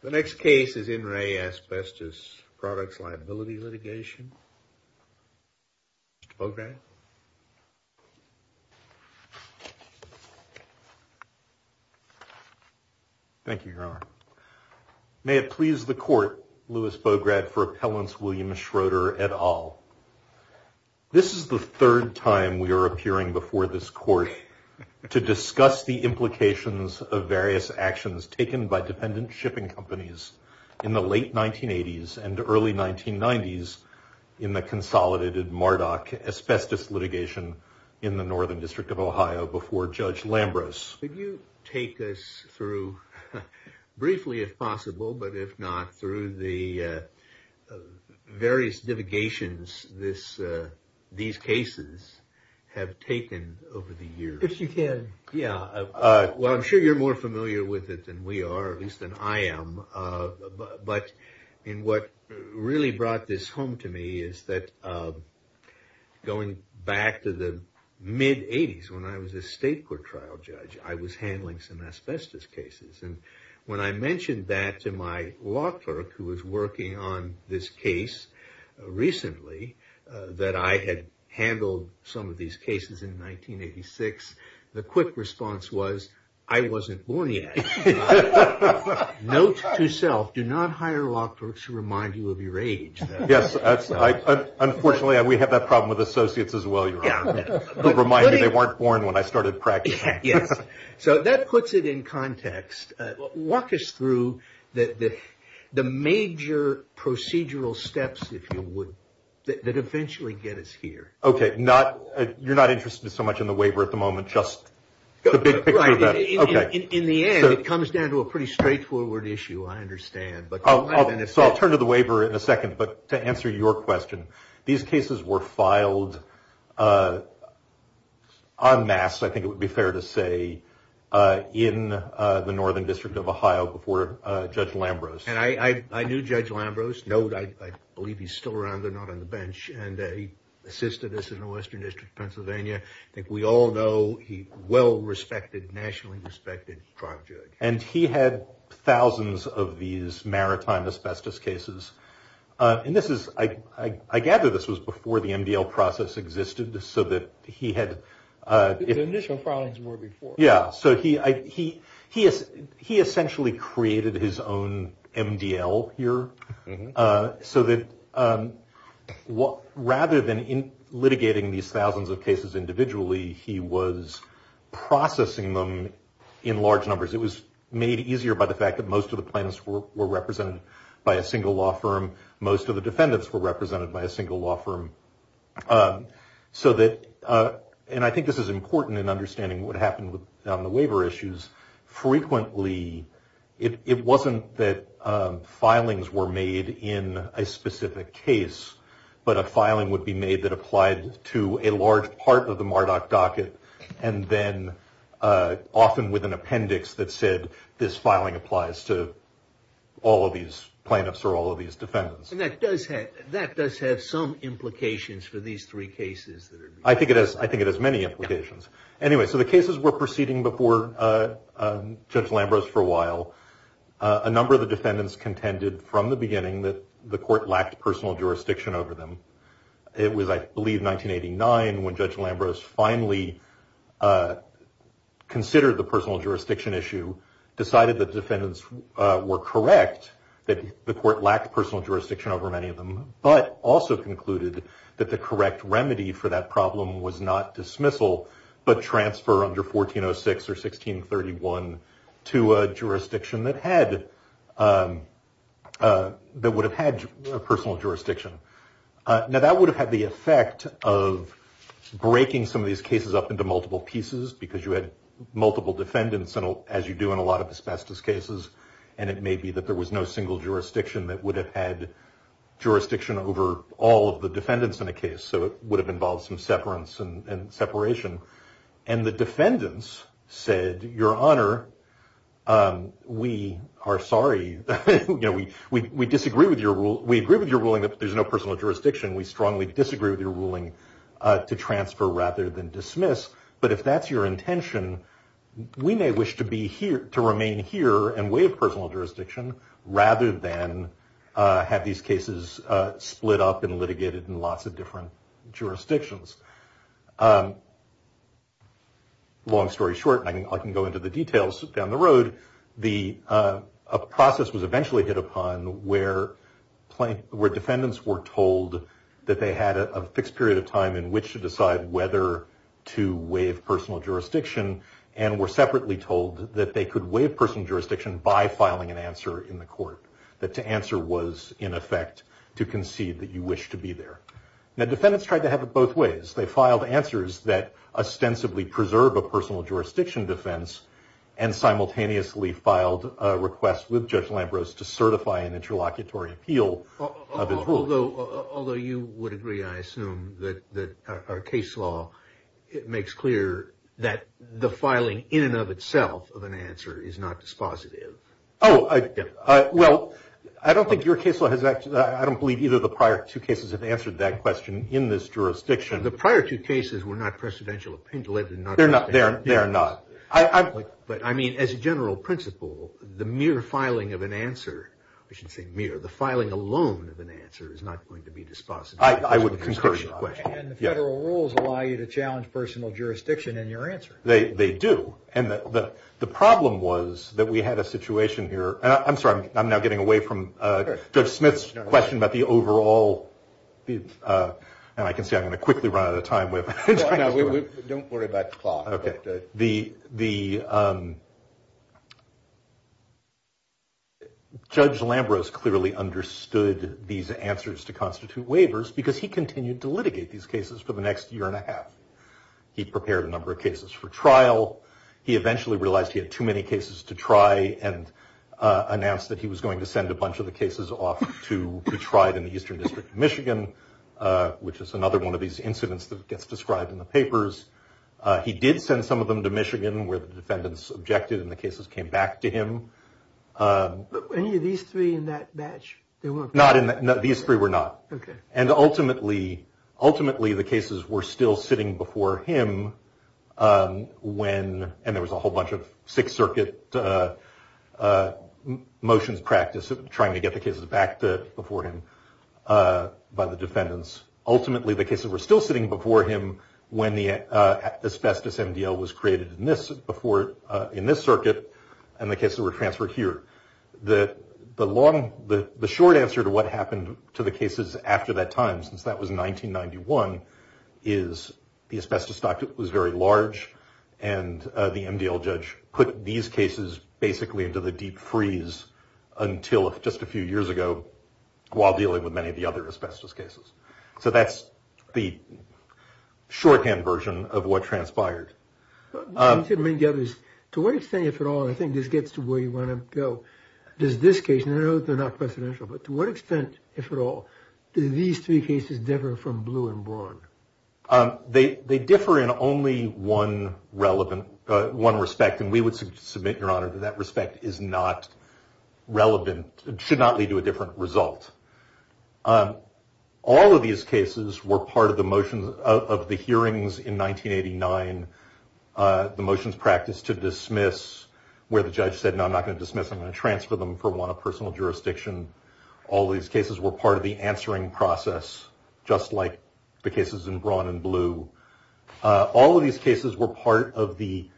The next case is In Re Asbestos Products Liability Litigation. Mr. Bograd. Thank you, Your Honor. May it please the Court, Louis Bograd, for Appellants William Schroeder et al. This is the third time we are appearing before this Court to discuss the implications of various actions taken by dependent shipping companies in the late 1980s and early 1990s in the Consolidated Mardock asbestos litigation in the Northern District of Ohio before Judge Lambros. Could you take us through, briefly if possible, but if not, through the various divigations these cases have taken over the years? I'm sure you're more familiar with it than we are, at least than I am, but in what really brought this home to me is that going back to the mid-80s when I was a state court trial judge, I was handling some asbestos cases. And when I mentioned that to my law clerk who was working on this case recently, that I had handled some of these cases in 1986, the quick response was, I wasn't born yet. Note to self, do not hire law clerks who remind you of your age. Yes, unfortunately we have that problem with associates as well, Your Honor, who remind me they weren't born when I started practicing. Yes, so that puts it in context. Walk us through the major procedural steps, if you would, that eventually get us here. Okay, you're not interested so much in the waiver at the moment, just the big picture? Right. In the end, it comes down to a pretty straightforward issue, I understand. I'll turn to the waiver in a second, but to answer your question, these cases were filed en masse, I think it would be fair to say, in the Northern District of Ohio before Judge Lambrose. And I knew Judge Lambrose. Note, I believe he's still around. They're not on the bench. And he assisted us in the Western District of Pennsylvania. I think we all know he well respected, nationally respected, trial judge. And he had thousands of these maritime asbestos cases. And this is, I gather this was before the MDL process existed, so that he had... The initial filings were before. Yeah, so he essentially created his own MDL here, so that rather than litigating these thousands of cases individually, he was processing them in large numbers. It was made easier by the fact that most of the plaintiffs were represented by a single law firm. Most of the defendants were represented by a single law firm. So that, and I think this is important in understanding what happened with the waiver issues. Frequently, it wasn't that filings were made in a specific case, but a filing would be made that applied to a large part of the MARDOC docket, and then often with an appendix that said this filing applies to all of these plaintiffs or all of these defendants. And that does have some implications for these three cases. I think it has many implications. Anyway, so the cases were proceeding before Judge Lambros for a while. A number of the defendants contended from the beginning that the court lacked personal jurisdiction over them. It was, I believe, 1989 when Judge Lambros finally considered the personal jurisdiction issue, decided that defendants were correct, that the court lacked personal jurisdiction over many of them, but also concluded that the correct remedy for that problem was not dismissal, but transfer under 1406 or 1631 to a jurisdiction that had, that would have had personal jurisdiction. Now, that would have had the effect of breaking some of these cases up into multiple pieces, because you had multiple defendants, as you do in a lot of asbestos cases. And it may be that there was no single jurisdiction that would have had jurisdiction over all of the defendants in a case. So it would have involved some separance and separation. And the defendants said, Your Honor, we are sorry. We disagree with your rule. We agree with your ruling that there's no personal jurisdiction. We strongly disagree with your ruling to transfer rather than dismiss. But if that's your intention, we may wish to be here, to remain here and waive personal jurisdiction, rather than have these cases split up and litigated in lots of different jurisdictions. Long story short, and I can go into the details down the road, a process was eventually hit upon where defendants were told that they had a fixed period of time in which to decide whether to waive personal jurisdiction, and were separately told that they could waive personal jurisdiction by filing an answer in the court, that the answer was, in effect, to concede that you wish to be there. Now, defendants tried to have it both ways. They filed answers that ostensibly preserve a personal jurisdiction defense, and simultaneously filed a request with Judge Lambros to certify an interlocutory appeal. Although you would agree, I assume, that our case law makes clear that the filing in and of itself of an answer is not dispositive. Well, I don't think your case law has actually, I don't believe either of the prior two cases have answered that question in this jurisdiction. The prior two cases were not presidential They're not. They're not. But, I mean, as a general principle, the mere filing of an answer, I should say mere, the filing alone of an answer is not going to be dispositive. I would concur. And the federal rules allow you to challenge personal jurisdiction in your answer. They do, and the problem was that we had a situation here, and I'm sorry, I'm now getting away from Judge Smith's question about the overall, and I can see I'm going to quickly run out of time. Don't worry about the clock. Okay, the Judge Lambros clearly understood these answers to constitute waivers because he continued to litigate these cases for the next year and a half. He prepared a number of cases for trial. He eventually realized he had too many cases to try and announced that he was going to send a bunch of the cases off to be tried in the Eastern District of Michigan, which is another one of these incidents that gets described in the papers. He did send some of them to Michigan where the defendants objected and the cases came back to him. Any of these three in that batch? Not in that. These three were not. Okay. And ultimately, ultimately, the cases were still sitting before him when, and there was a whole bunch of Sixth by the defendants. Ultimately, the cases were still sitting before him when the asbestos MDL was created in this circuit and the cases were transferred here. The short answer to what happened to the cases after that time, since that was 1991, is the asbestos stock was very large and the MDL judge put these cases basically into the deep freeze until just a few years ago while dealing with many of the other asbestos cases. So that's the shorthand version of what transpired. To what extent, if at all, and I think this gets to where you want to go, does this case, and I know they're not precedential, but to what extent, if at all, do these three cases differ from Blue and Braun? They differ in only one relevant, one respect, and we would submit, Your Honor, that that respect is not relevant, should not lead to a different result. All of these cases were part of the motions of the hearings in 1989, the motions practiced to dismiss where the judge said, No, I'm not going to dismiss, I'm going to transfer them for one of personal jurisdiction. All these cases were part of the answering process, just like the cases in Braun and Blue. All of these cases were part of the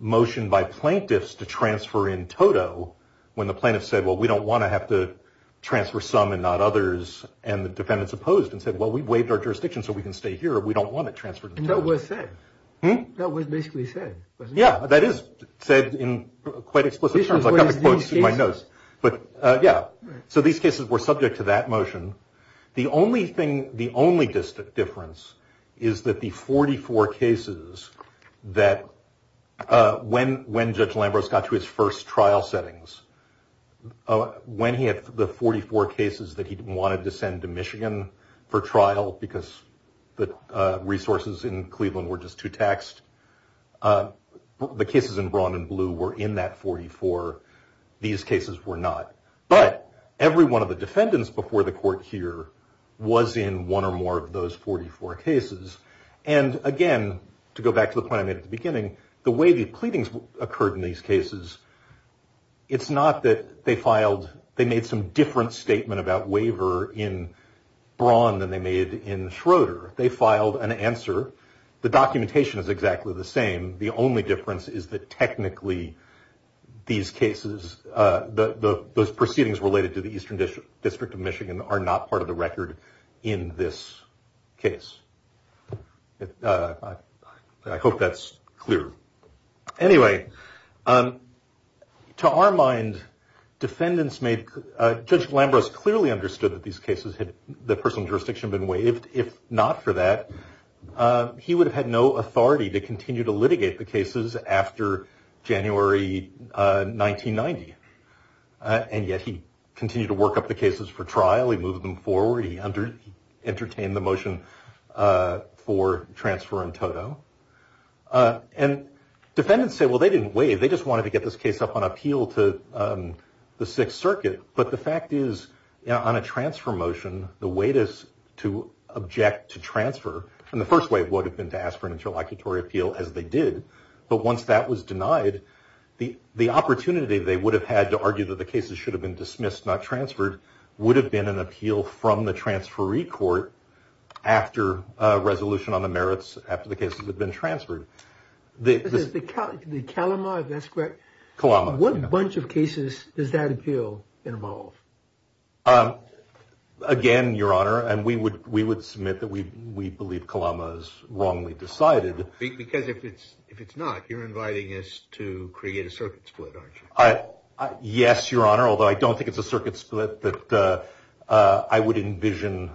plaintiffs to transfer in total when the plaintiffs said, Well, we don't want to have to transfer some and not others, and the defendants opposed and said, Well, we waived our jurisdiction so we can stay here. We don't want it transferred. And that was said. That was basically said. Yeah, that is said in quite explicit terms. I've got the quotes in my notes. But yeah, so these cases were subject to that motion. The only thing, the only difference is that the 44 cases that when Judge Lambros got to his first trial settings, when he had the 44 cases that he wanted to send to Michigan for trial because the resources in Cleveland were just too taxed, the cases in Braun and Blue were in that 44. These cases were not. But every one of the defendants before the court here was in one or more of those 44 cases. And again, to go back to the point I made at the beginning, the way the pleadings occurred in these cases, it's not that they filed, they made some different statement about waiver in Braun than they made in Schroeder. They filed an answer. The documentation is exactly the same. The only difference is that technically these cases, those proceedings related to the Eastern District of Michigan are not part of the record in this case. I hope that's clear. Anyway, to our mind, defendants made, Judge Lambros clearly understood that these cases had the personal jurisdiction been waived. If not for that, he would have had no authority to continue to litigate the cases after January 1990. And yet he continued to work up the cases for trial. He moved them forward. He entertained the motion for transfer in toto. And defendants say, well, they didn't waive. They just wanted to get this case up on appeal to the Sixth Circuit. But the fact is, on a transfer motion, the wait is to object to transfer. And the first way it would have been to ask for an interlocutory appeal, as they did. But once that was denied, the opportunity they would have had to argue that the cases should have been dismissed, not transferred, would have been an appeal from the transferee court after a resolution on the merits, after the cases had been transferred. The Kalama, if that's correct? Kalama. What bunch of cases does that appeal involve? Again, Your Honor, and we would submit that we believe Kalama's wrongly decided. Because if it's not, you're inviting us to create a circuit split, aren't you? Yes, Your Honor. Although I don't think it's a circuit split that I would envision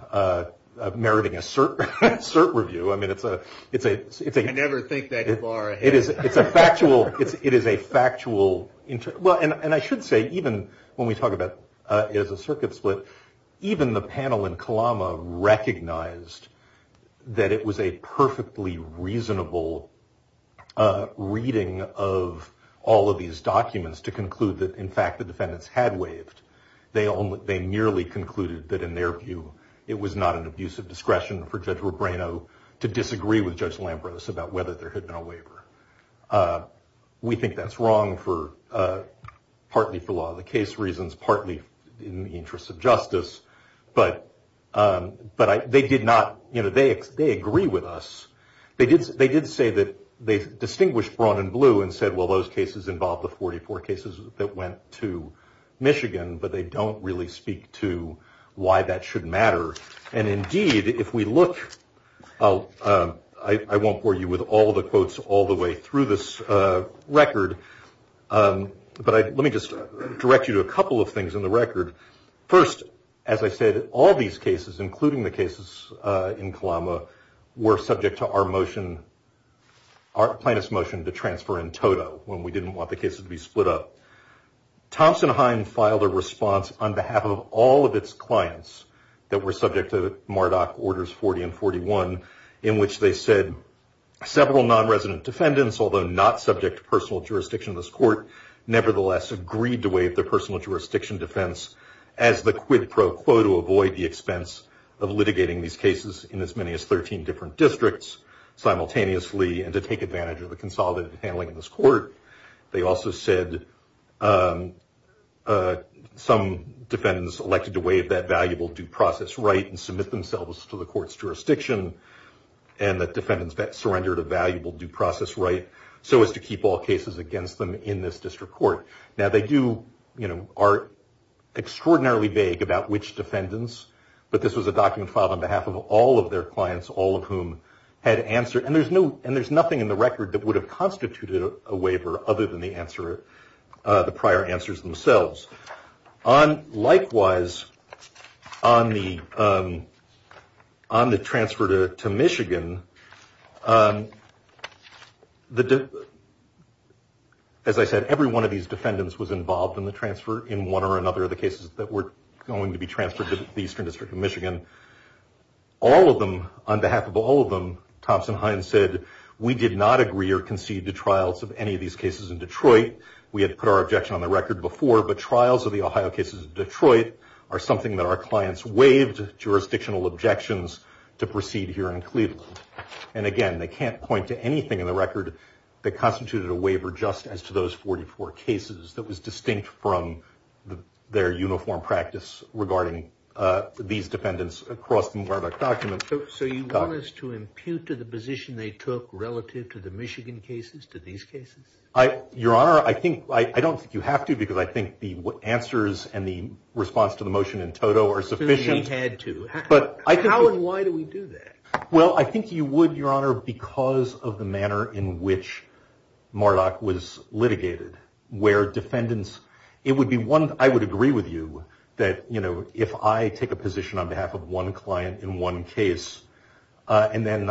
meriting a cert review. I mean, it's a... You never think that far ahead. It's a factual... And I should say, even when we talk about it as a circuit split, even the panel in Kalama recognized that it was a perfectly reasonable reading of all of these documents to conclude that, in fact, the defendants had waived. They merely concluded that, in their view, it was not an abuse of discretion for Judge Kalama. We think that's wrong, partly for a lot of the case reasons, partly in the interest of justice. But they did not... They agree with us. They did say that they distinguished brown and blue and said, well, those cases involve the 44 cases that went to Michigan, but they don't really speak to why that should matter. And indeed, if we look... I won't bore you with all the quotes all the way through this record, but let me just direct you to a couple of things in the record. First, as I said, all these cases, including the cases in Kalama, were subject to our motion, our plaintiff's motion, to transfer in toto, when we didn't want the cases to be split up. Thompson-Hein filed a response on behalf of all of its clients that were subject to non-resident defendants, although not subject to personal jurisdiction of this court, nevertheless agreed to waive the personal jurisdiction defense as the quid pro quo to avoid the expense of litigating these cases in as many as 13 different districts simultaneously and to take advantage of the consolidated handling of this court. They also said some defendants elected to waive that valuable due process right and submit themselves to the due process right so as to keep all cases against them in this district court. Now they do, are extraordinarily vague about which defendants, but this was a document filed on behalf of all of their clients, all of whom had answered. And there's nothing in the record that would have constituted a waiver other than the prior answers themselves. Likewise, on the transfer to Michigan, as I said, every one of these defendants was involved in the transfer in one or another of the cases that were going to be transferred to the Eastern District of Michigan. All of them, on behalf of all of them, Thompson-Hein said, we did not agree or concede to trials of any of these cases in Detroit. We had put our objection on the record before, but trials of the Ohio cases in Detroit are something that our clients waived jurisdictional objections to proceed here in Cleveland. And again, they can't point to anything in the record that constituted a waiver just as to those 44 cases that was distinct from their uniform practice regarding these defendants across the Murdoch documents. So you want us to impute to the position they took relative to the Michigan cases, to these cases? Your Honor, I don't think you have to because I think the answers and the response to the motion in toto are sufficient. But how and why do we do that? Well, I think you would, Your Honor, because of the manner in which Murdoch was litigated, where defendants, it would be one, I would agree with you that, you know, if I take a position on behalf of one client in one case, and then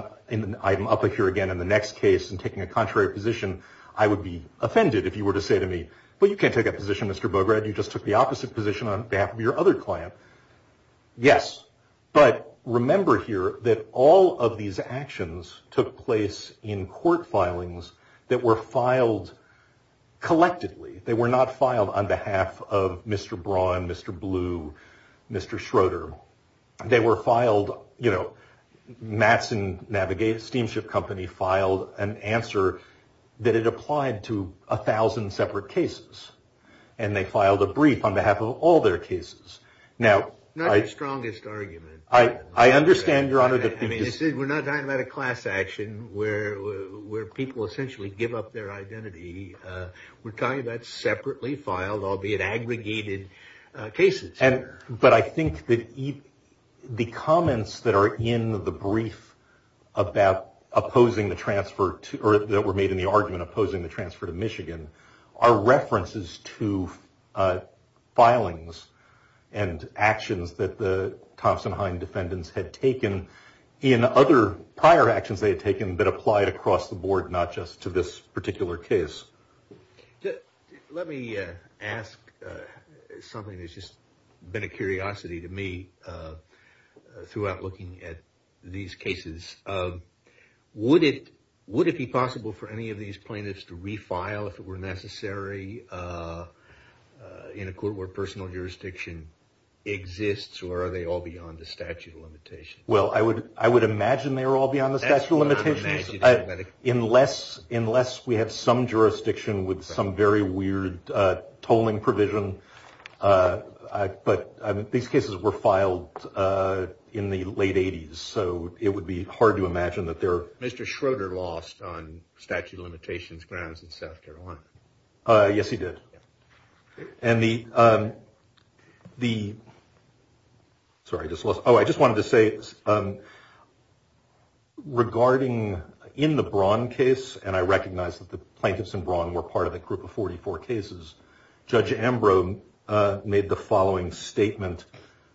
I'm up here again in the next case and taking a contrary position, I would be offended if you were to say to me, well, you can't take a position, Mr. Bograd, you just took the opposite position on behalf of your other client. Yes. But remember here that all of these actions took place in court filings that were filed collectively. They were not filed on behalf of Mr. Braun, Mr. Blue, Mr. Schroeder. They were filed, you know, Matson Navigate Steamship Company filed an answer that it applied to a thousand separate cases. And they filed a brief on behalf of all their cases. Now, not the strongest argument. I understand, Your Honor, that we're not talking about a class action where people essentially give up their identity. We're talking about separately filed, albeit aggregated cases. But I think that the comments that are in the brief about opposing the transfer or that were made in the argument opposing the transfer to Michigan are references to filings and actions that the Thompson-Hine defendants had taken in other prior actions they had taken that applied across the board, not just to this particular case. Let me ask something that's just been a curiosity to me throughout looking at these cases. Would it be possible for any of these plaintiffs to refile if it were necessary in a court where personal jurisdiction exists, or are they all beyond the statute of limitations? Well, I would imagine they're all beyond the statute of limitations. Unless we have some jurisdiction with some very weird tolling provision. But these cases were in the late 80s, so it would be hard to imagine that they're... Mr. Schroeder lost on statute of limitations grounds in South Carolina. Yes, he did. And the... Sorry, I just lost... Oh, I just wanted to say, regarding in the Braun case, and I recognize that the plaintiffs in Braun were part of a Judge Ambrose made the following statement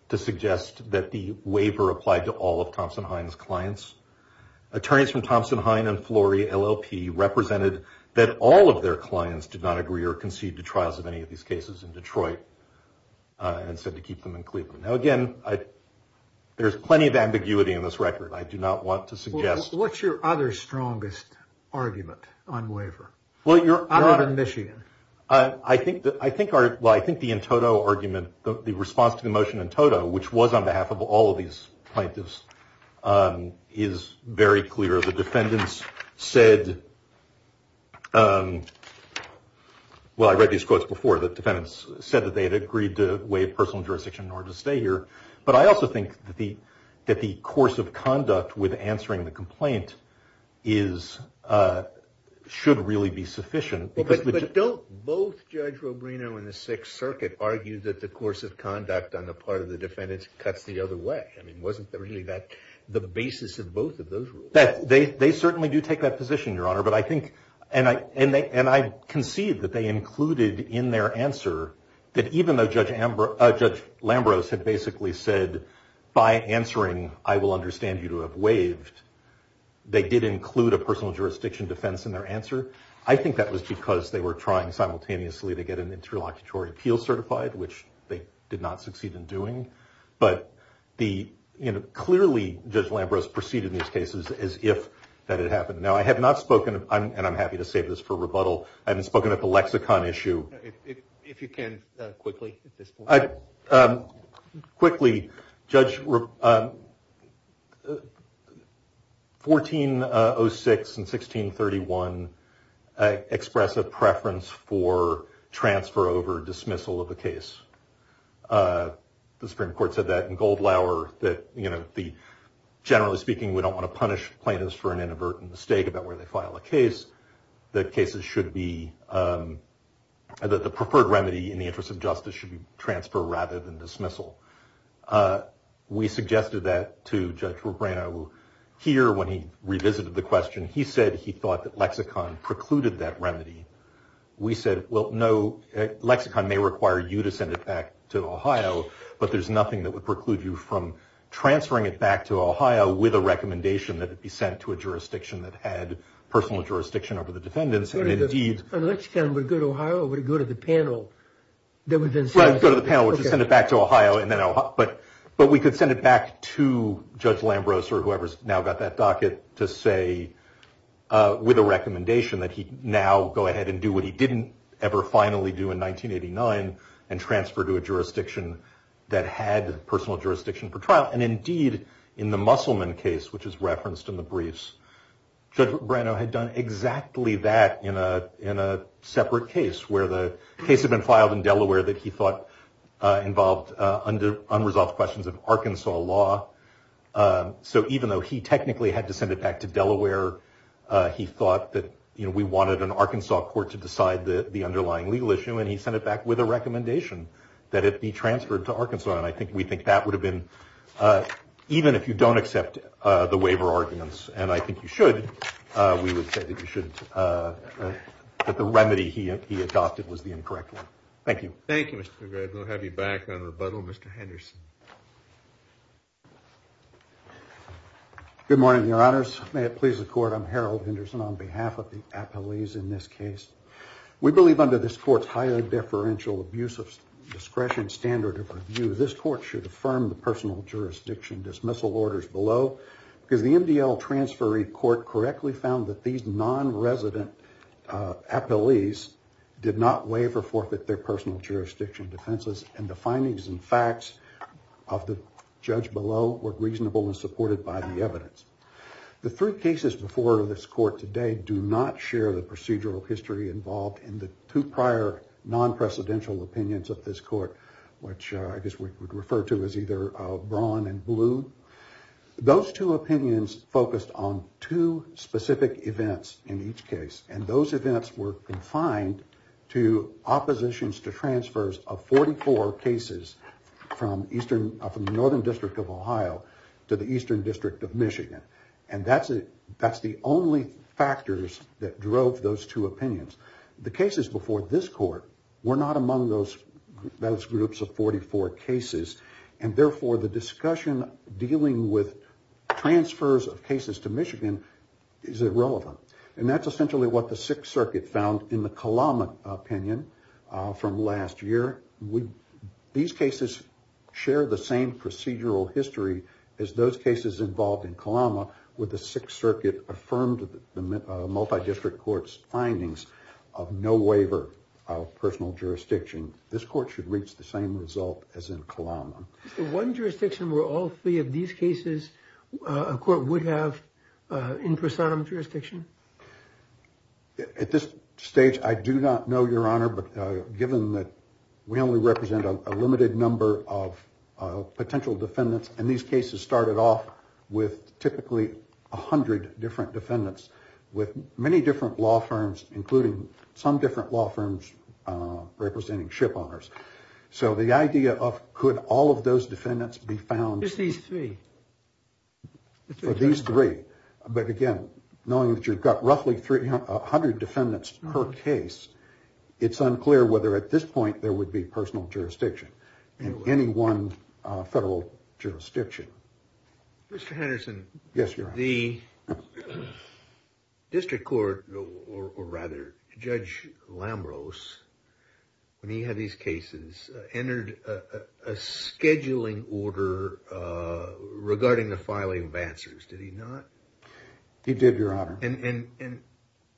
to suggest that the waiver applied to all of Thompson-Hine's clients. Attorneys from Thompson-Hine and Flory LLP represented that all of their clients did not agree or concede to trials of any of these cases in Detroit, and said to keep them in Cleveland. Now, again, there's plenty of ambiguity in this record. I do not want to suggest... Well, what's your other strongest argument on waiver? Well, you're out of Michigan. I think the Entoto argument, the response to the motion Entoto, which was on behalf of all of these plaintiffs, is very clear. The defendants said... Well, I read these quotes before. The defendants said that they had agreed to waive personal jurisdiction in order to stay here. But I also that the course of conduct with answering the complaint should really be sufficient. Well, but don't both Judge Rubino and the Sixth Circuit argue that the course of conduct on the part of the defendants cuts the other way? I mean, wasn't really that the basis of both of those rules? They certainly do take that position, Your Honor. And I concede that they included in their by answering, I will understand you to have waived, they did include a personal jurisdiction defense in their answer. I think that was because they were trying simultaneously to get an interlocutory appeal certified, which they did not succeed in doing. But clearly, Judge Lambros proceeded in these cases as if that had happened. Now, I have not spoken... And I'm happy to save this for rebuttal. I haven't spoken at the lexicon issue. If you can quickly at this point. Quickly, Judge, 1406 and 1631 express a preference for transfer over dismissal of the case. The Supreme Court said that in Goldlauer that, you know, the generally speaking, we don't want to punish plaintiffs for an inadvertent mistake about where they file a case. The cases should be... The preferred remedy in the interest of justice should be transfer rather than dismissal. We suggested that to Judge Rubino here when he revisited the question. He said he thought that lexicon precluded that remedy. We said, well, no, lexicon may require you to send it back to Ohio, but there's nothing that would preclude you from transferring it back to Ohio with a recommendation that it be sent to a jurisdiction that had personal jurisdiction over the defendants. And indeed... On lexicon, would it go to Ohio or would it go to the panel? Right, go to the panel, which would send it back to Ohio. But we could send it back to Judge Lambros or whoever's now got that docket to say with a recommendation that he now go ahead and do what he didn't ever finally do in 1989 and transfer to a jurisdiction that had personal jurisdiction for trial. And indeed, in the Musselman case, which is referenced in the briefs, Judge Brano had done exactly that in a separate case where the case had been filed in Delaware that he thought involved unresolved questions of Arkansas law. So even though he technically had to send it back to Delaware, he thought that we wanted an Arkansas court to decide the underlying legal issue, and he sent it back with a recommendation that it be transferred to Ohio. And I think we think that would have been... Even if you don't accept the waiver arguments, and I think you should, we would say that you should... That the remedy he adopted was the incorrect one. Thank you. Thank you, Mr. Gregg. We'll have you back on rebuttal. Mr. Henderson. Good morning, your honors. May it please the court, I'm Harold Henderson on behalf of the appellees in this case. We believe under this court's highly deferential abuse of discretion standard of review, this court should affirm the personal jurisdiction dismissal orders below because the MDL transferee court correctly found that these non-resident appellees did not waive or forfeit their personal jurisdiction defenses, and the findings and facts of the judge below were reasonable and supported by the evidence. The three cases before this court today do not share the procedural history involved in the two prior non-presidential opinions of this court, which I guess we would refer to as either brown and blue. Those two opinions focused on two specific events in each case, and those events were confined to oppositions to transfers of 44 cases from the Northern District of Ohio to the Eastern District of Michigan. And that's the only factors that drove those two opinions. The cases before this court were not among those groups of 44 cases, and therefore the discussion dealing with transfers of cases to Michigan is irrelevant. And that's essentially what the Sixth Circuit found in the Kalama opinion from last year. These cases share the same procedural history as those cases involved in Kalama, where the Sixth Circuit affirmed the waiver of personal jurisdiction. This court should reach the same result as in Kalama. Is there one jurisdiction where all three of these cases a court would have in prosodium jurisdiction? At this stage, I do not know, Your Honor, but given that we only represent a limited number of potential defendants, and these cases started off with typically a hundred different defendants with many different law firms, including some different law firms representing ship owners. So the idea of could all of those defendants be found for these three, but again, knowing that you've got roughly three hundred defendants per case, it's unclear whether at this point there would be personal jurisdiction in any one federal jurisdiction. Mr. Henderson, the district court, or rather Judge Lambros, when he had these cases, entered a scheduling order regarding the filing of answers. Did he not? He did, Your Honor. And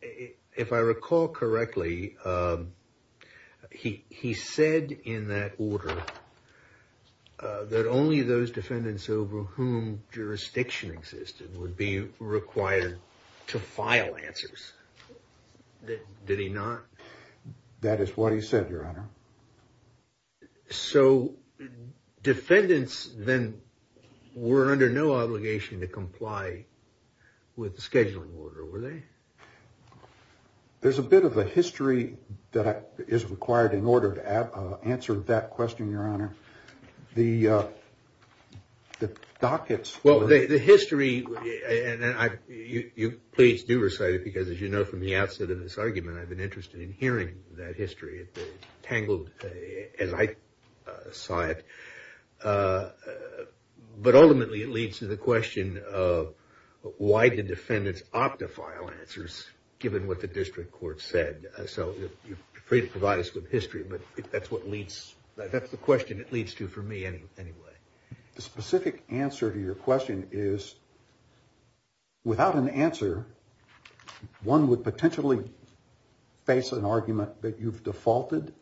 if I recall correctly, he said in that order that only those defendants over whom jurisdiction existed would be required to file answers. Did he not? That is what he said, Your Honor. So defendants then were under no obligation to comply with the scheduling order, were they? There's a bit of a history that is required in order to answer that question, Your Honor. The dockets... Well, the history, and you please do recite it, because as you know, from the outset of this argument, I've been interested in hearing that history. It's tangled as I saw it. But ultimately, it leads to the question of why did defendants opt to file answers? Given what the district court said. So you're free to provide us with history, but that's the question it leads to for me anyway. The specific answer to your question is, without an answer, one would potentially face an argument that you've defaulted.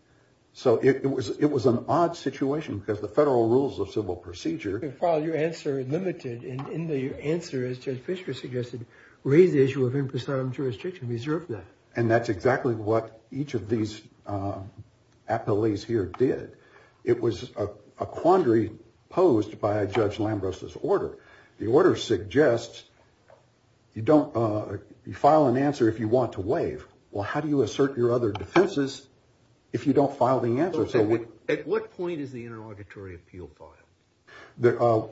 So it was an odd situation because the federal rules of civil procedure... And that's exactly what each of these appellees here did. It was a quandary posed by Judge Lambros' order. The order suggests you file an answer if you want to waive. Well, how do you assert your other defenses if you don't file the answer? At what point is the interlocutory appeal filed?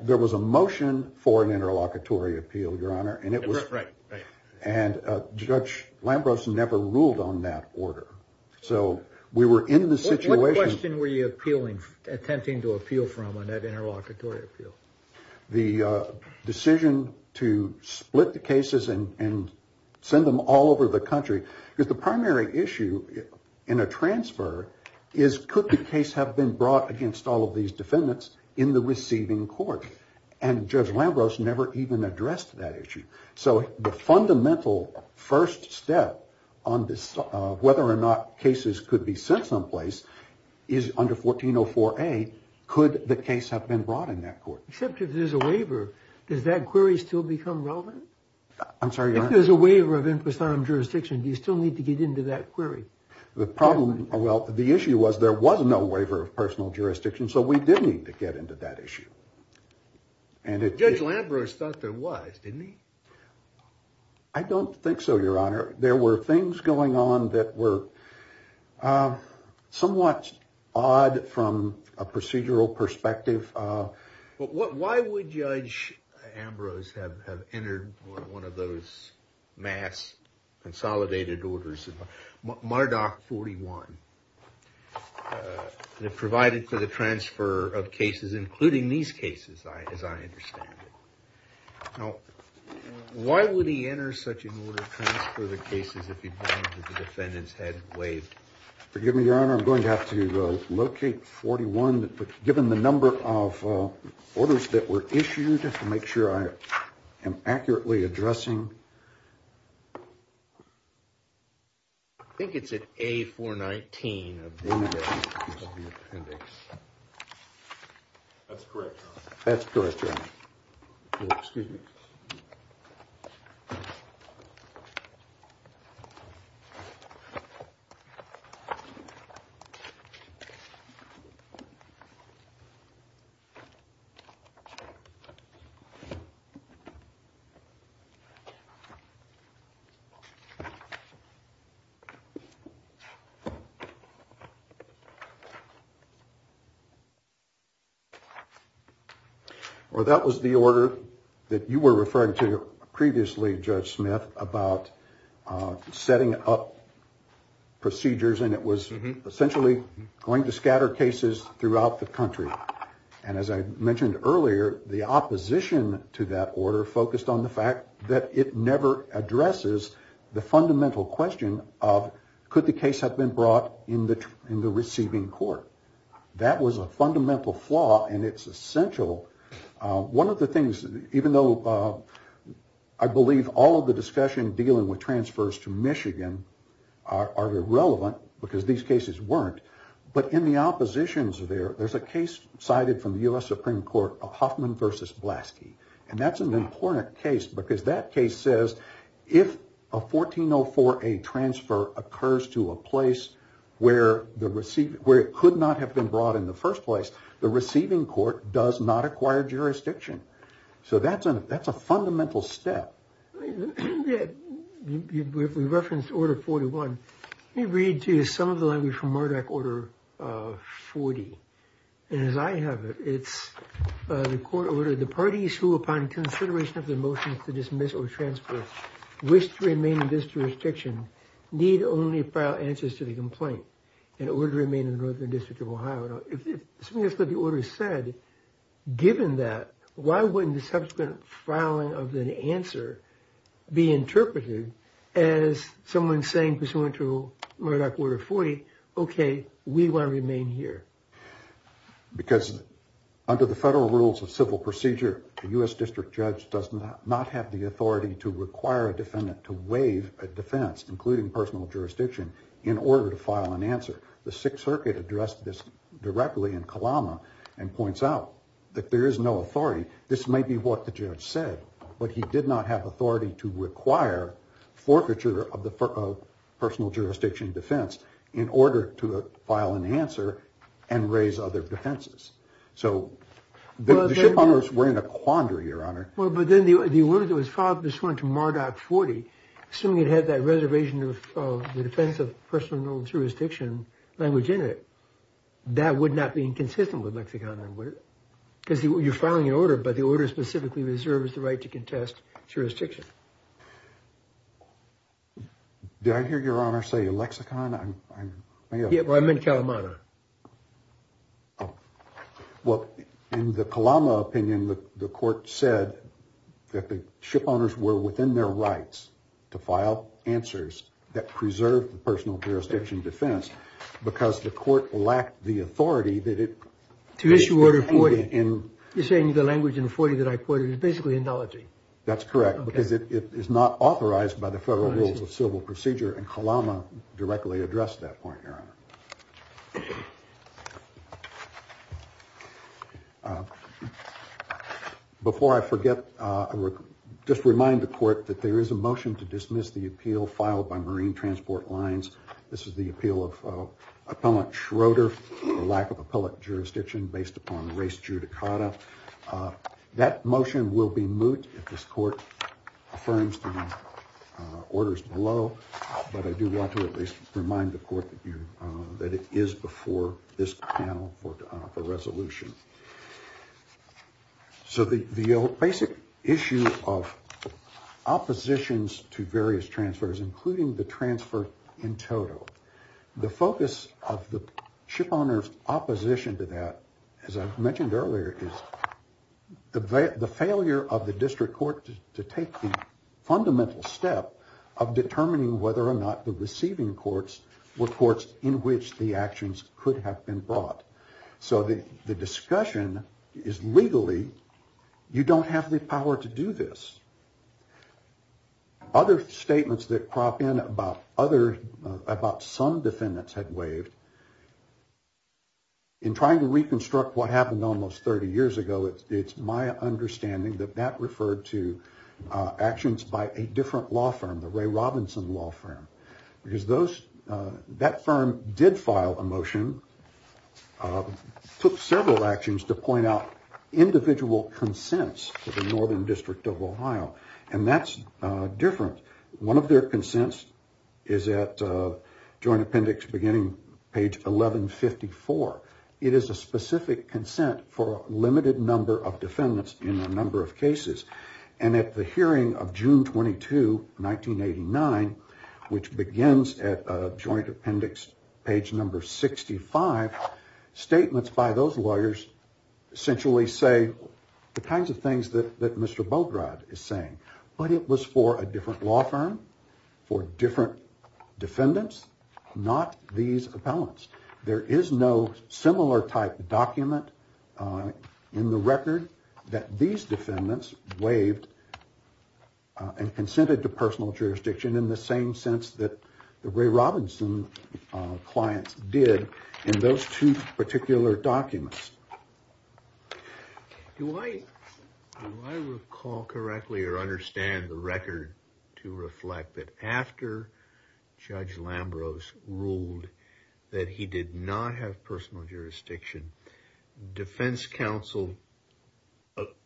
There was a motion for an interlocutory appeal, Your Honor. Right. And Judge Lambros never ruled on that order. So we were in the situation... What question were you attempting to appeal from on that interlocutory appeal? The decision to split the cases and send them all over the country. Because the primary issue in a transfer is could the case have been brought against all of these defendants in the receiving court? And Judge Lambros never even addressed that issue. So the fundamental first step on this, whether or not cases could be sent someplace, is under 1404A, could the case have been brought in that court? Except if there's a waiver, does that query still become relevant? I'm sorry, Your Honor? If there's a waiver of impersonnum jurisdiction, do you still need to get into that query? The problem... Well, the issue was there was no waiver of personal jurisdiction, so we did need to get into that issue. And it... Judge Lambros thought there was, didn't he? I don't think so, Your Honor. There were things going on that were somewhat odd from a procedural perspective. But why would Judge Ambrose have entered one of those mass consolidated orders, Mardoch 41, that provided for the transfer of cases, including these cases, as I understand it? Now, why would he enter such an order to transfer the cases if he'd known that the defendants had waived? Forgive me, Your Honor, I'm going to have to locate 41. Given the number of orders that were issued, I'll have to make sure I am accurately addressing. I think it's at A419 of the appendix. That's correct, Your Honor. That's correct, Your Honor. Excuse me. Well, that was the order that you were referring to previously, Judge Smith, about setting up procedures, and it was essentially going to scatter cases throughout the country. And as I mentioned earlier, the opposition to that order focused on the fact that it never addresses the fundamental question of, could the case have been brought in the receiving court? That was a fundamental flaw, and it's essential. One of the things, even though I believe all of the discussion dealing with transfers to Michigan are irrelevant, because these cases weren't, but in the oppositions there, there's a case cited from the U.S. Supreme Court of Hoffman versus Blaski. And that's an important case, because that case says, if a 1404A transfer occurs to a place where it could not have been brought in the first place, the receiving court does not acquire jurisdiction. So that's a fundamental step. If we reference Order 41, let me read to you some of the language from Murdoch Order 40. And as I have it, it's the court ordered, the parties who, upon consideration of their motions to dismiss or transfer, wish to remain in this jurisdiction, need only file answers to the complaint in order to remain in the Northern District of Ohio. If something else that the order said, given that, why wouldn't the subsequent filing of the answer be interpreted as someone saying, pursuant to Murdoch Order 40, okay, we want to remain here? Because under the federal rules of civil procedure, a U.S. District Judge does not have the authority to require a defendant to waive a defense, including personal jurisdiction, in order to file an answer. The Sixth Circuit addressed this directly in Kalama and points out that there is no authority. This may be what the judge said, but he did not have authority to require forfeiture of other defenses. So the ship owners were in a quandary, Your Honor. Well, but then the order that was filed pursuant to Murdoch 40, assuming it had that reservation of the defense of personal jurisdiction language in it, that would not be inconsistent with lexicon, would it? Because you're filing an order, but the order specifically reserves the right to contest jurisdiction. Did I hear Your Honor say lexicon? Yeah, well, I meant Kalama. Oh, well, in the Kalama opinion, the court said that the ship owners were within their rights to file answers that preserved the personal jurisdiction defense because the court lacked the authority that it. To issue order 40, you're saying the language in 40 that I quoted is basically an analogy. That's correct, because it is not authorized by the federal rules of civil procedure and Kalama directly addressed that point, Your Honor. Okay. Before I forget, just remind the court that there is a motion to dismiss the appeal filed by Marine Transport Lines. This is the appeal of Appellant Schroeder for lack of appellate jurisdiction based upon race judicata. That motion will be moot if this court affirms the orders below, but I do want to at least remind the court that it is before this panel for the resolution. So the basic issue of oppositions to various transfers, including the transfer in total, the focus of the ship owner's opposition to that, as I mentioned earlier, is the failure of the district court to take the fundamental step of determining whether or not the receiving courts were courts in which the actions could have been brought. So the discussion is legally, you don't have the power to do this. Other statements that crop in about some defendants had waived. In trying to reconstruct what happened almost 30 years ago, it's my understanding that that firm did file a motion, took several actions to point out individual consents to the Northern District of Ohio, and that's different. One of their consents is at Joint Appendix beginning page 1154. It is a specific consent for a limited number of defendants in a number of cases. And at the hearing of June 22, 1989, which begins at Joint Appendix page number 65, statements by those lawyers essentially say the kinds of things that Mr. Bograd is saying. But it was for a different law firm, for different defendants, not these appellants. There is no similar type document in the record that these defendants waived and consented to personal jurisdiction in the same sense that the Ray Robinson clients did in those two particular documents. Do I recall correctly or understand the record to reflect that after Judge Lambros ruled that he did not have personal jurisdiction, defense counsel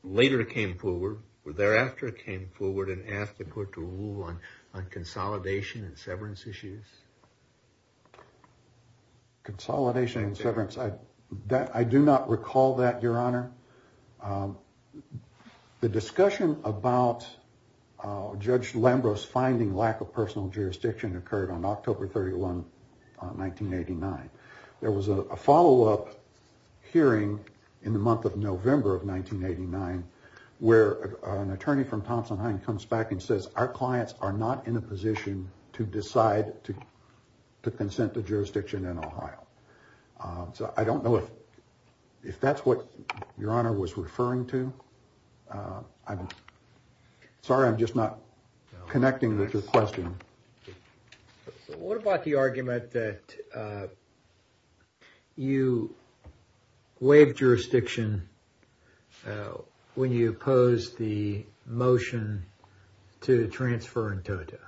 later came forward or thereafter came forward and asked the court to rule on consolidation and severance issues? Consolidation and severance, I do not recall that, Your Honor. The discussion about Judge Lambros finding lack of personal jurisdiction occurred on October 31, 1989. There was a follow-up hearing in the month of November of 1989 where an attorney from Thompson Heine comes back and says our clients are not in a position to decide to consent to jurisdiction in Ohio. So I don't know if that's what Your Honor was What about the argument that you waived jurisdiction when you opposed the motion to transfer in total?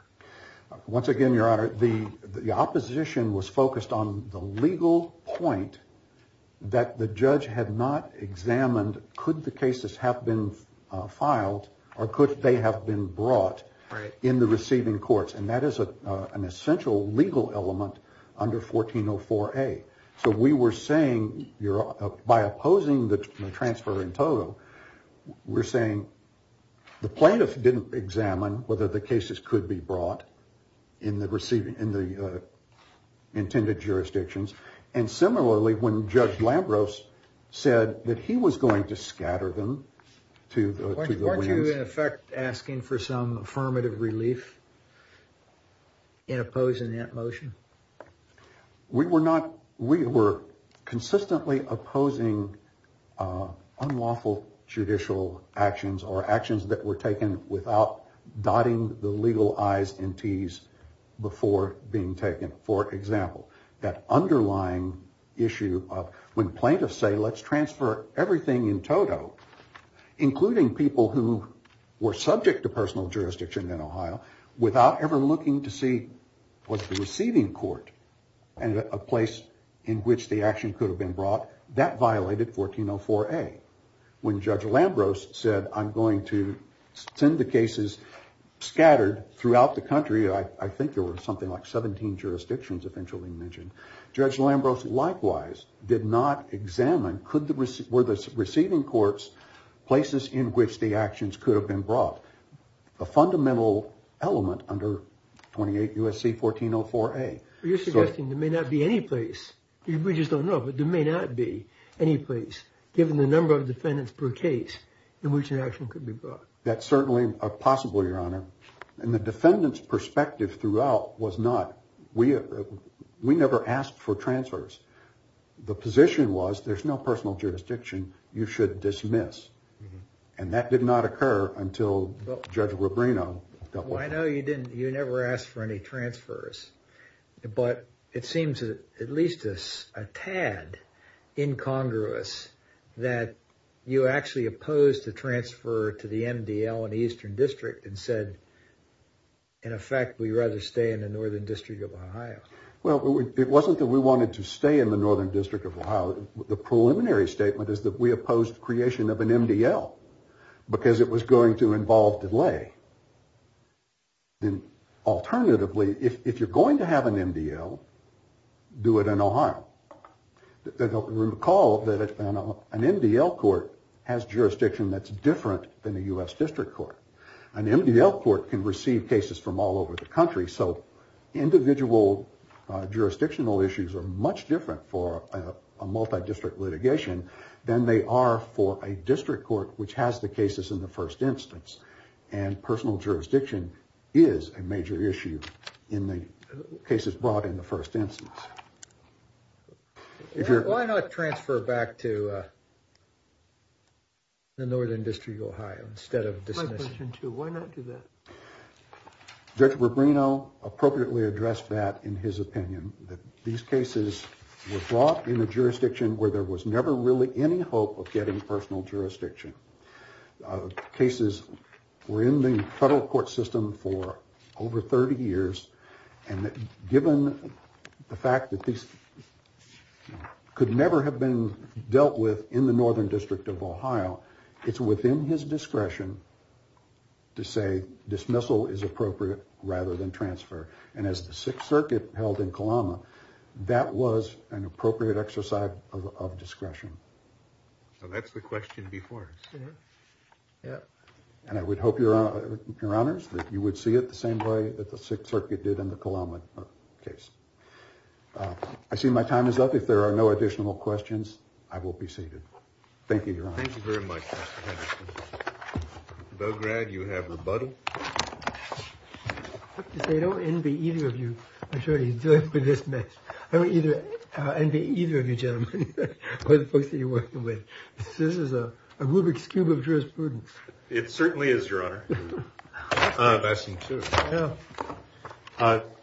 Once again, Your Honor, the opposition was focused on the legal point that the judge had not examined could the cases have been filed or could they have been brought in the receiving courts. And that is an essential legal element under 1404A. So we were saying, Your Honor, by opposing the transfer in total, we're saying the plaintiff didn't examine whether the cases could be brought in the intended jurisdictions. And similarly, when Judge Lambros said that he was going to oppose the motion. We were not, we were consistently opposing unlawful judicial actions or actions that were taken without dotting the legal I's and T's before being taken. For example, that underlying issue of when plaintiffs say let's transfer everything in total, including people who were subject to personal jurisdiction in Ohio, without ever looking to see what the receiving court and a place in which the action could have been brought, that violated 1404A. When Judge Lambros said I'm going to send the cases scattered throughout the country, I think there were something like 17 jurisdictions eventually mentioned, Judge Lambros likewise did not examine were the receiving courts places in which the actions could have been brought. A fundamental element under 28 U.S.C. 1404A. You're suggesting there may not be any place. We just don't know, but there may not be any place given the number of defendants per case in which an action could be brought. That's certainly possible, Your Honor. And the defendant's transfers. The position was there's no personal jurisdiction. You should dismiss. And that did not occur until Judge Rubino dealt with that. I know you never asked for any transfers, but it seems at least a tad incongruous that you actually opposed the transfer to the MDL in the Eastern District and said, in effect, we'd rather stay in the Northern District of Ohio. Well, it wasn't that we wanted to stay in the Northern District of Ohio. The preliminary statement is that we opposed the creation of an MDL because it was going to involve delay. Then alternatively, if you're going to have an MDL, do it in Ohio. Recall that an MDL court has jurisdiction that's different than a U.S. District Court. An MDL court can receive cases from all over the country. So individual jurisdictional issues are much different for a multidistrict litigation than they are for a district court, which has the cases in the first instance. And personal jurisdiction is a major issue in the cases brought in the first instance. Why not transfer back to the Northern District of Ohio instead of dismissing? Why not do that? Judge Rubino appropriately addressed that in his opinion, that these cases were brought in a jurisdiction where there was never really any hope of getting personal jurisdiction. Cases were in the federal court system for over 30 years, and given the fact that these could never have been dealt with in the Northern District of Ohio, it's within his discretion to say dismissal is appropriate rather than transfer. And as the Sixth Circuit held in Kalama, that was an appropriate exercise of discretion. So that's the question before. And I would hope, Your Honors, that you would see it the same way that the Sixth Circuit did in the Kalama case. I see my time is up. If there are no additional questions, I will be seated. Thank you, Your Honor. Thank you very much, Mr. Henderson. Belgrad, you have rebuttal. I have to say, I don't envy either of you attorneys doing this mess. I don't envy either of you gentlemen or the folks that you're working with. This is a Rubik's Cube of jurisprudence. It certainly is, Your Honor.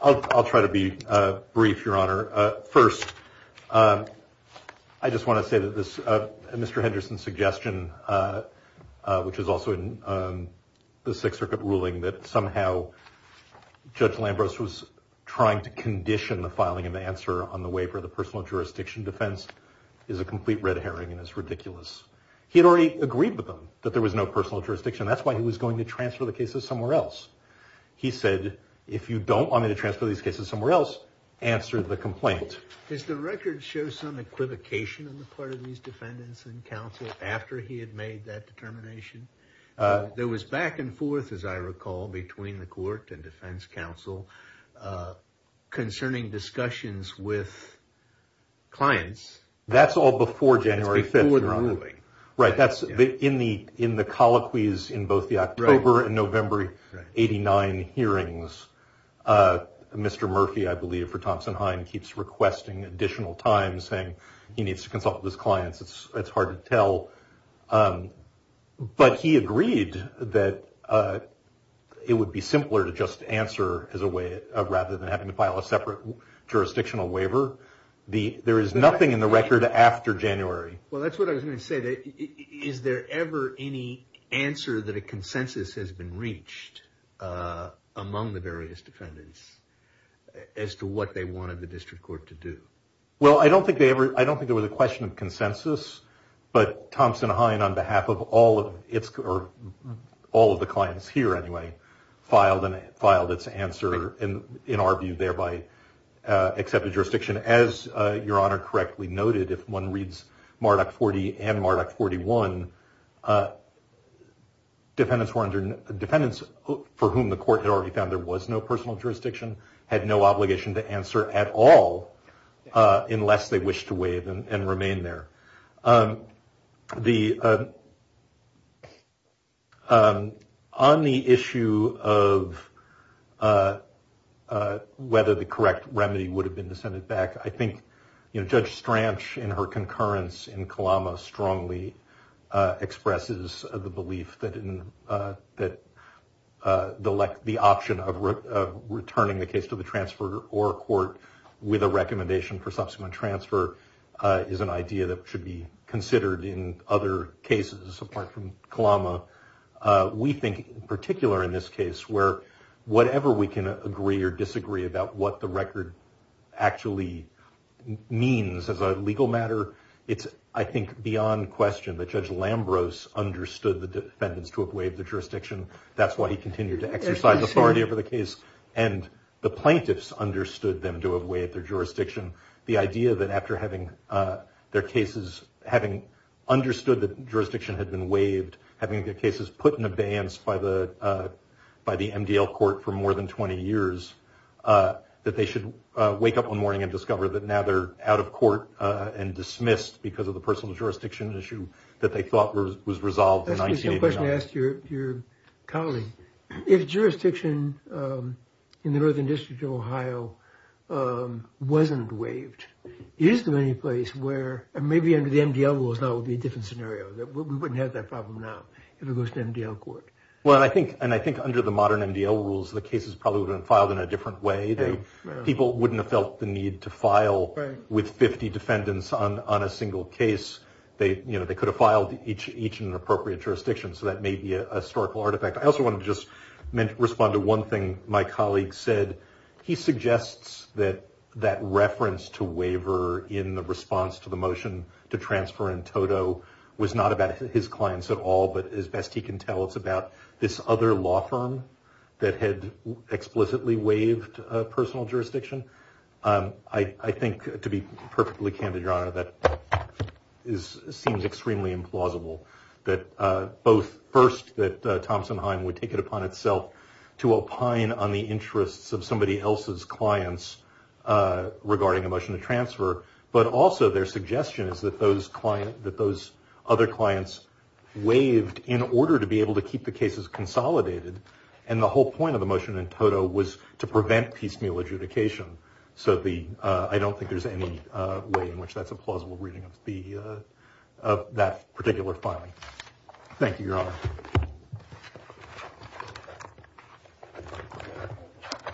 I'll try to be brief, Your Honor. First, I just want to say that Mr. Henderson's suggestion, which was also in the Sixth Circuit ruling, that somehow Judge Lambros was trying to condition the filing of the answer on the waiver of the personal jurisdiction defense is a complete red herring and is ridiculous. He had already agreed with them that there was no personal jurisdiction. That's why he was going to transfer the cases somewhere else. He said, if you don't want me to transfer these cases somewhere else, answer the complaint. Does the record show some equivocation on the part of these defendants and counsel after he had made that determination? There was back and forth, as I recall, between the court and defense counsel concerning discussions with clients. That's all before January 5th, Your Honor. Before the ruling. Right. In the colloquies in both the October and November 89 hearings, Mr. Murphy, I believe, for Thompson-Hine keeps requesting additional time, saying he needs to consult with his clients. It's hard to tell. But he agreed that it would be simpler to just answer rather than having to file a separate jurisdictional waiver. There is nothing in the record after January. Well, that's what I was going to say. Is there ever any answer that a consensus has been reached among the various defendants as to what they wanted the district court to do? Well, I don't think there was a question of consensus. But Thompson-Hine, on behalf of all of the clients here, anyway, filed its answer and, in our view, thereby accepted jurisdiction. As Your Honor correctly noted, if one reads Marduk 40 and Marduk 41, defendants for whom the court had already found there was no personal jurisdiction had no obligation to answer at all unless they wished to waive and remain there. On the issue of whether the correct remedy would have been to send it back, I think Judge Stranch, in her concurrence in Kalama, strongly expresses the belief that the option of returning the case to the transfer or court with a recommendation for subsequent transfer is an idea that should be considered in other cases, apart from Kalama. We think, in particular in this case, where whatever we can agree or disagree about what the record actually means as a legal matter, it's, I think, beyond question that Judge Lambros understood the defendants to have waived the jurisdiction. That's why he continued to exercise authority over the case. And the plaintiffs understood them to have waived their jurisdiction. The idea that after having their cases, having understood that jurisdiction had been waived, having their cases put in abeyance by the MDL court for more than 20 years, that they should wake up one morning and discover that now they're out of court and dismissed because of the personal jurisdiction issue that they thought was resolved in 1989. Let me ask a question to your colleague. If jurisdiction in the Northern District of Ohio wasn't waived, is there any place where, and maybe under the MDL rules now would be a different scenario, that we wouldn't have that problem now if it goes to MDL court? Well, I think, and I think under the modern MDL rules, the cases probably would have been filed in a different way. People wouldn't have felt the need to file with 50 defendants on a single case. They could have filed each in an appropriate jurisdiction, so that may be a historical artifact. I also want to just respond to one thing my colleague said. He suggests that that reference to waiver in the response to the motion to transfer in toto was not about his client. It's about this other law firm that had explicitly waived personal jurisdiction. I think, to be perfectly candid, Your Honor, that seems extremely implausible that both, first, that Thompson-Hein would take it upon itself to opine on the interests of somebody else's clients regarding a motion to transfer, but also their suggestion is that those other clients waived in order to be able to keep the cases consolidated, and the whole point of the motion in toto was to prevent piecemeal adjudication. So, I don't think there's any way in which that's a plausible reading of that particular filing. Thank you, Your Honor.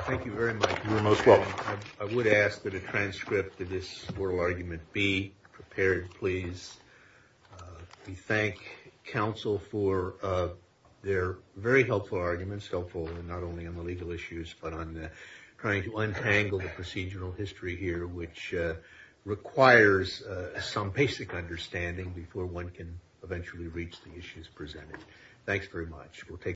Thank you very much. You're most welcome. I would ask that a transcript of this oral argument be prepared, please. We thank counsel for their very helpful arguments, helpful not only on the legal issues, but on trying to untangle the procedural history here, which requires some basic understanding before one can eventually reach the issues presented. Thanks very much. We'll take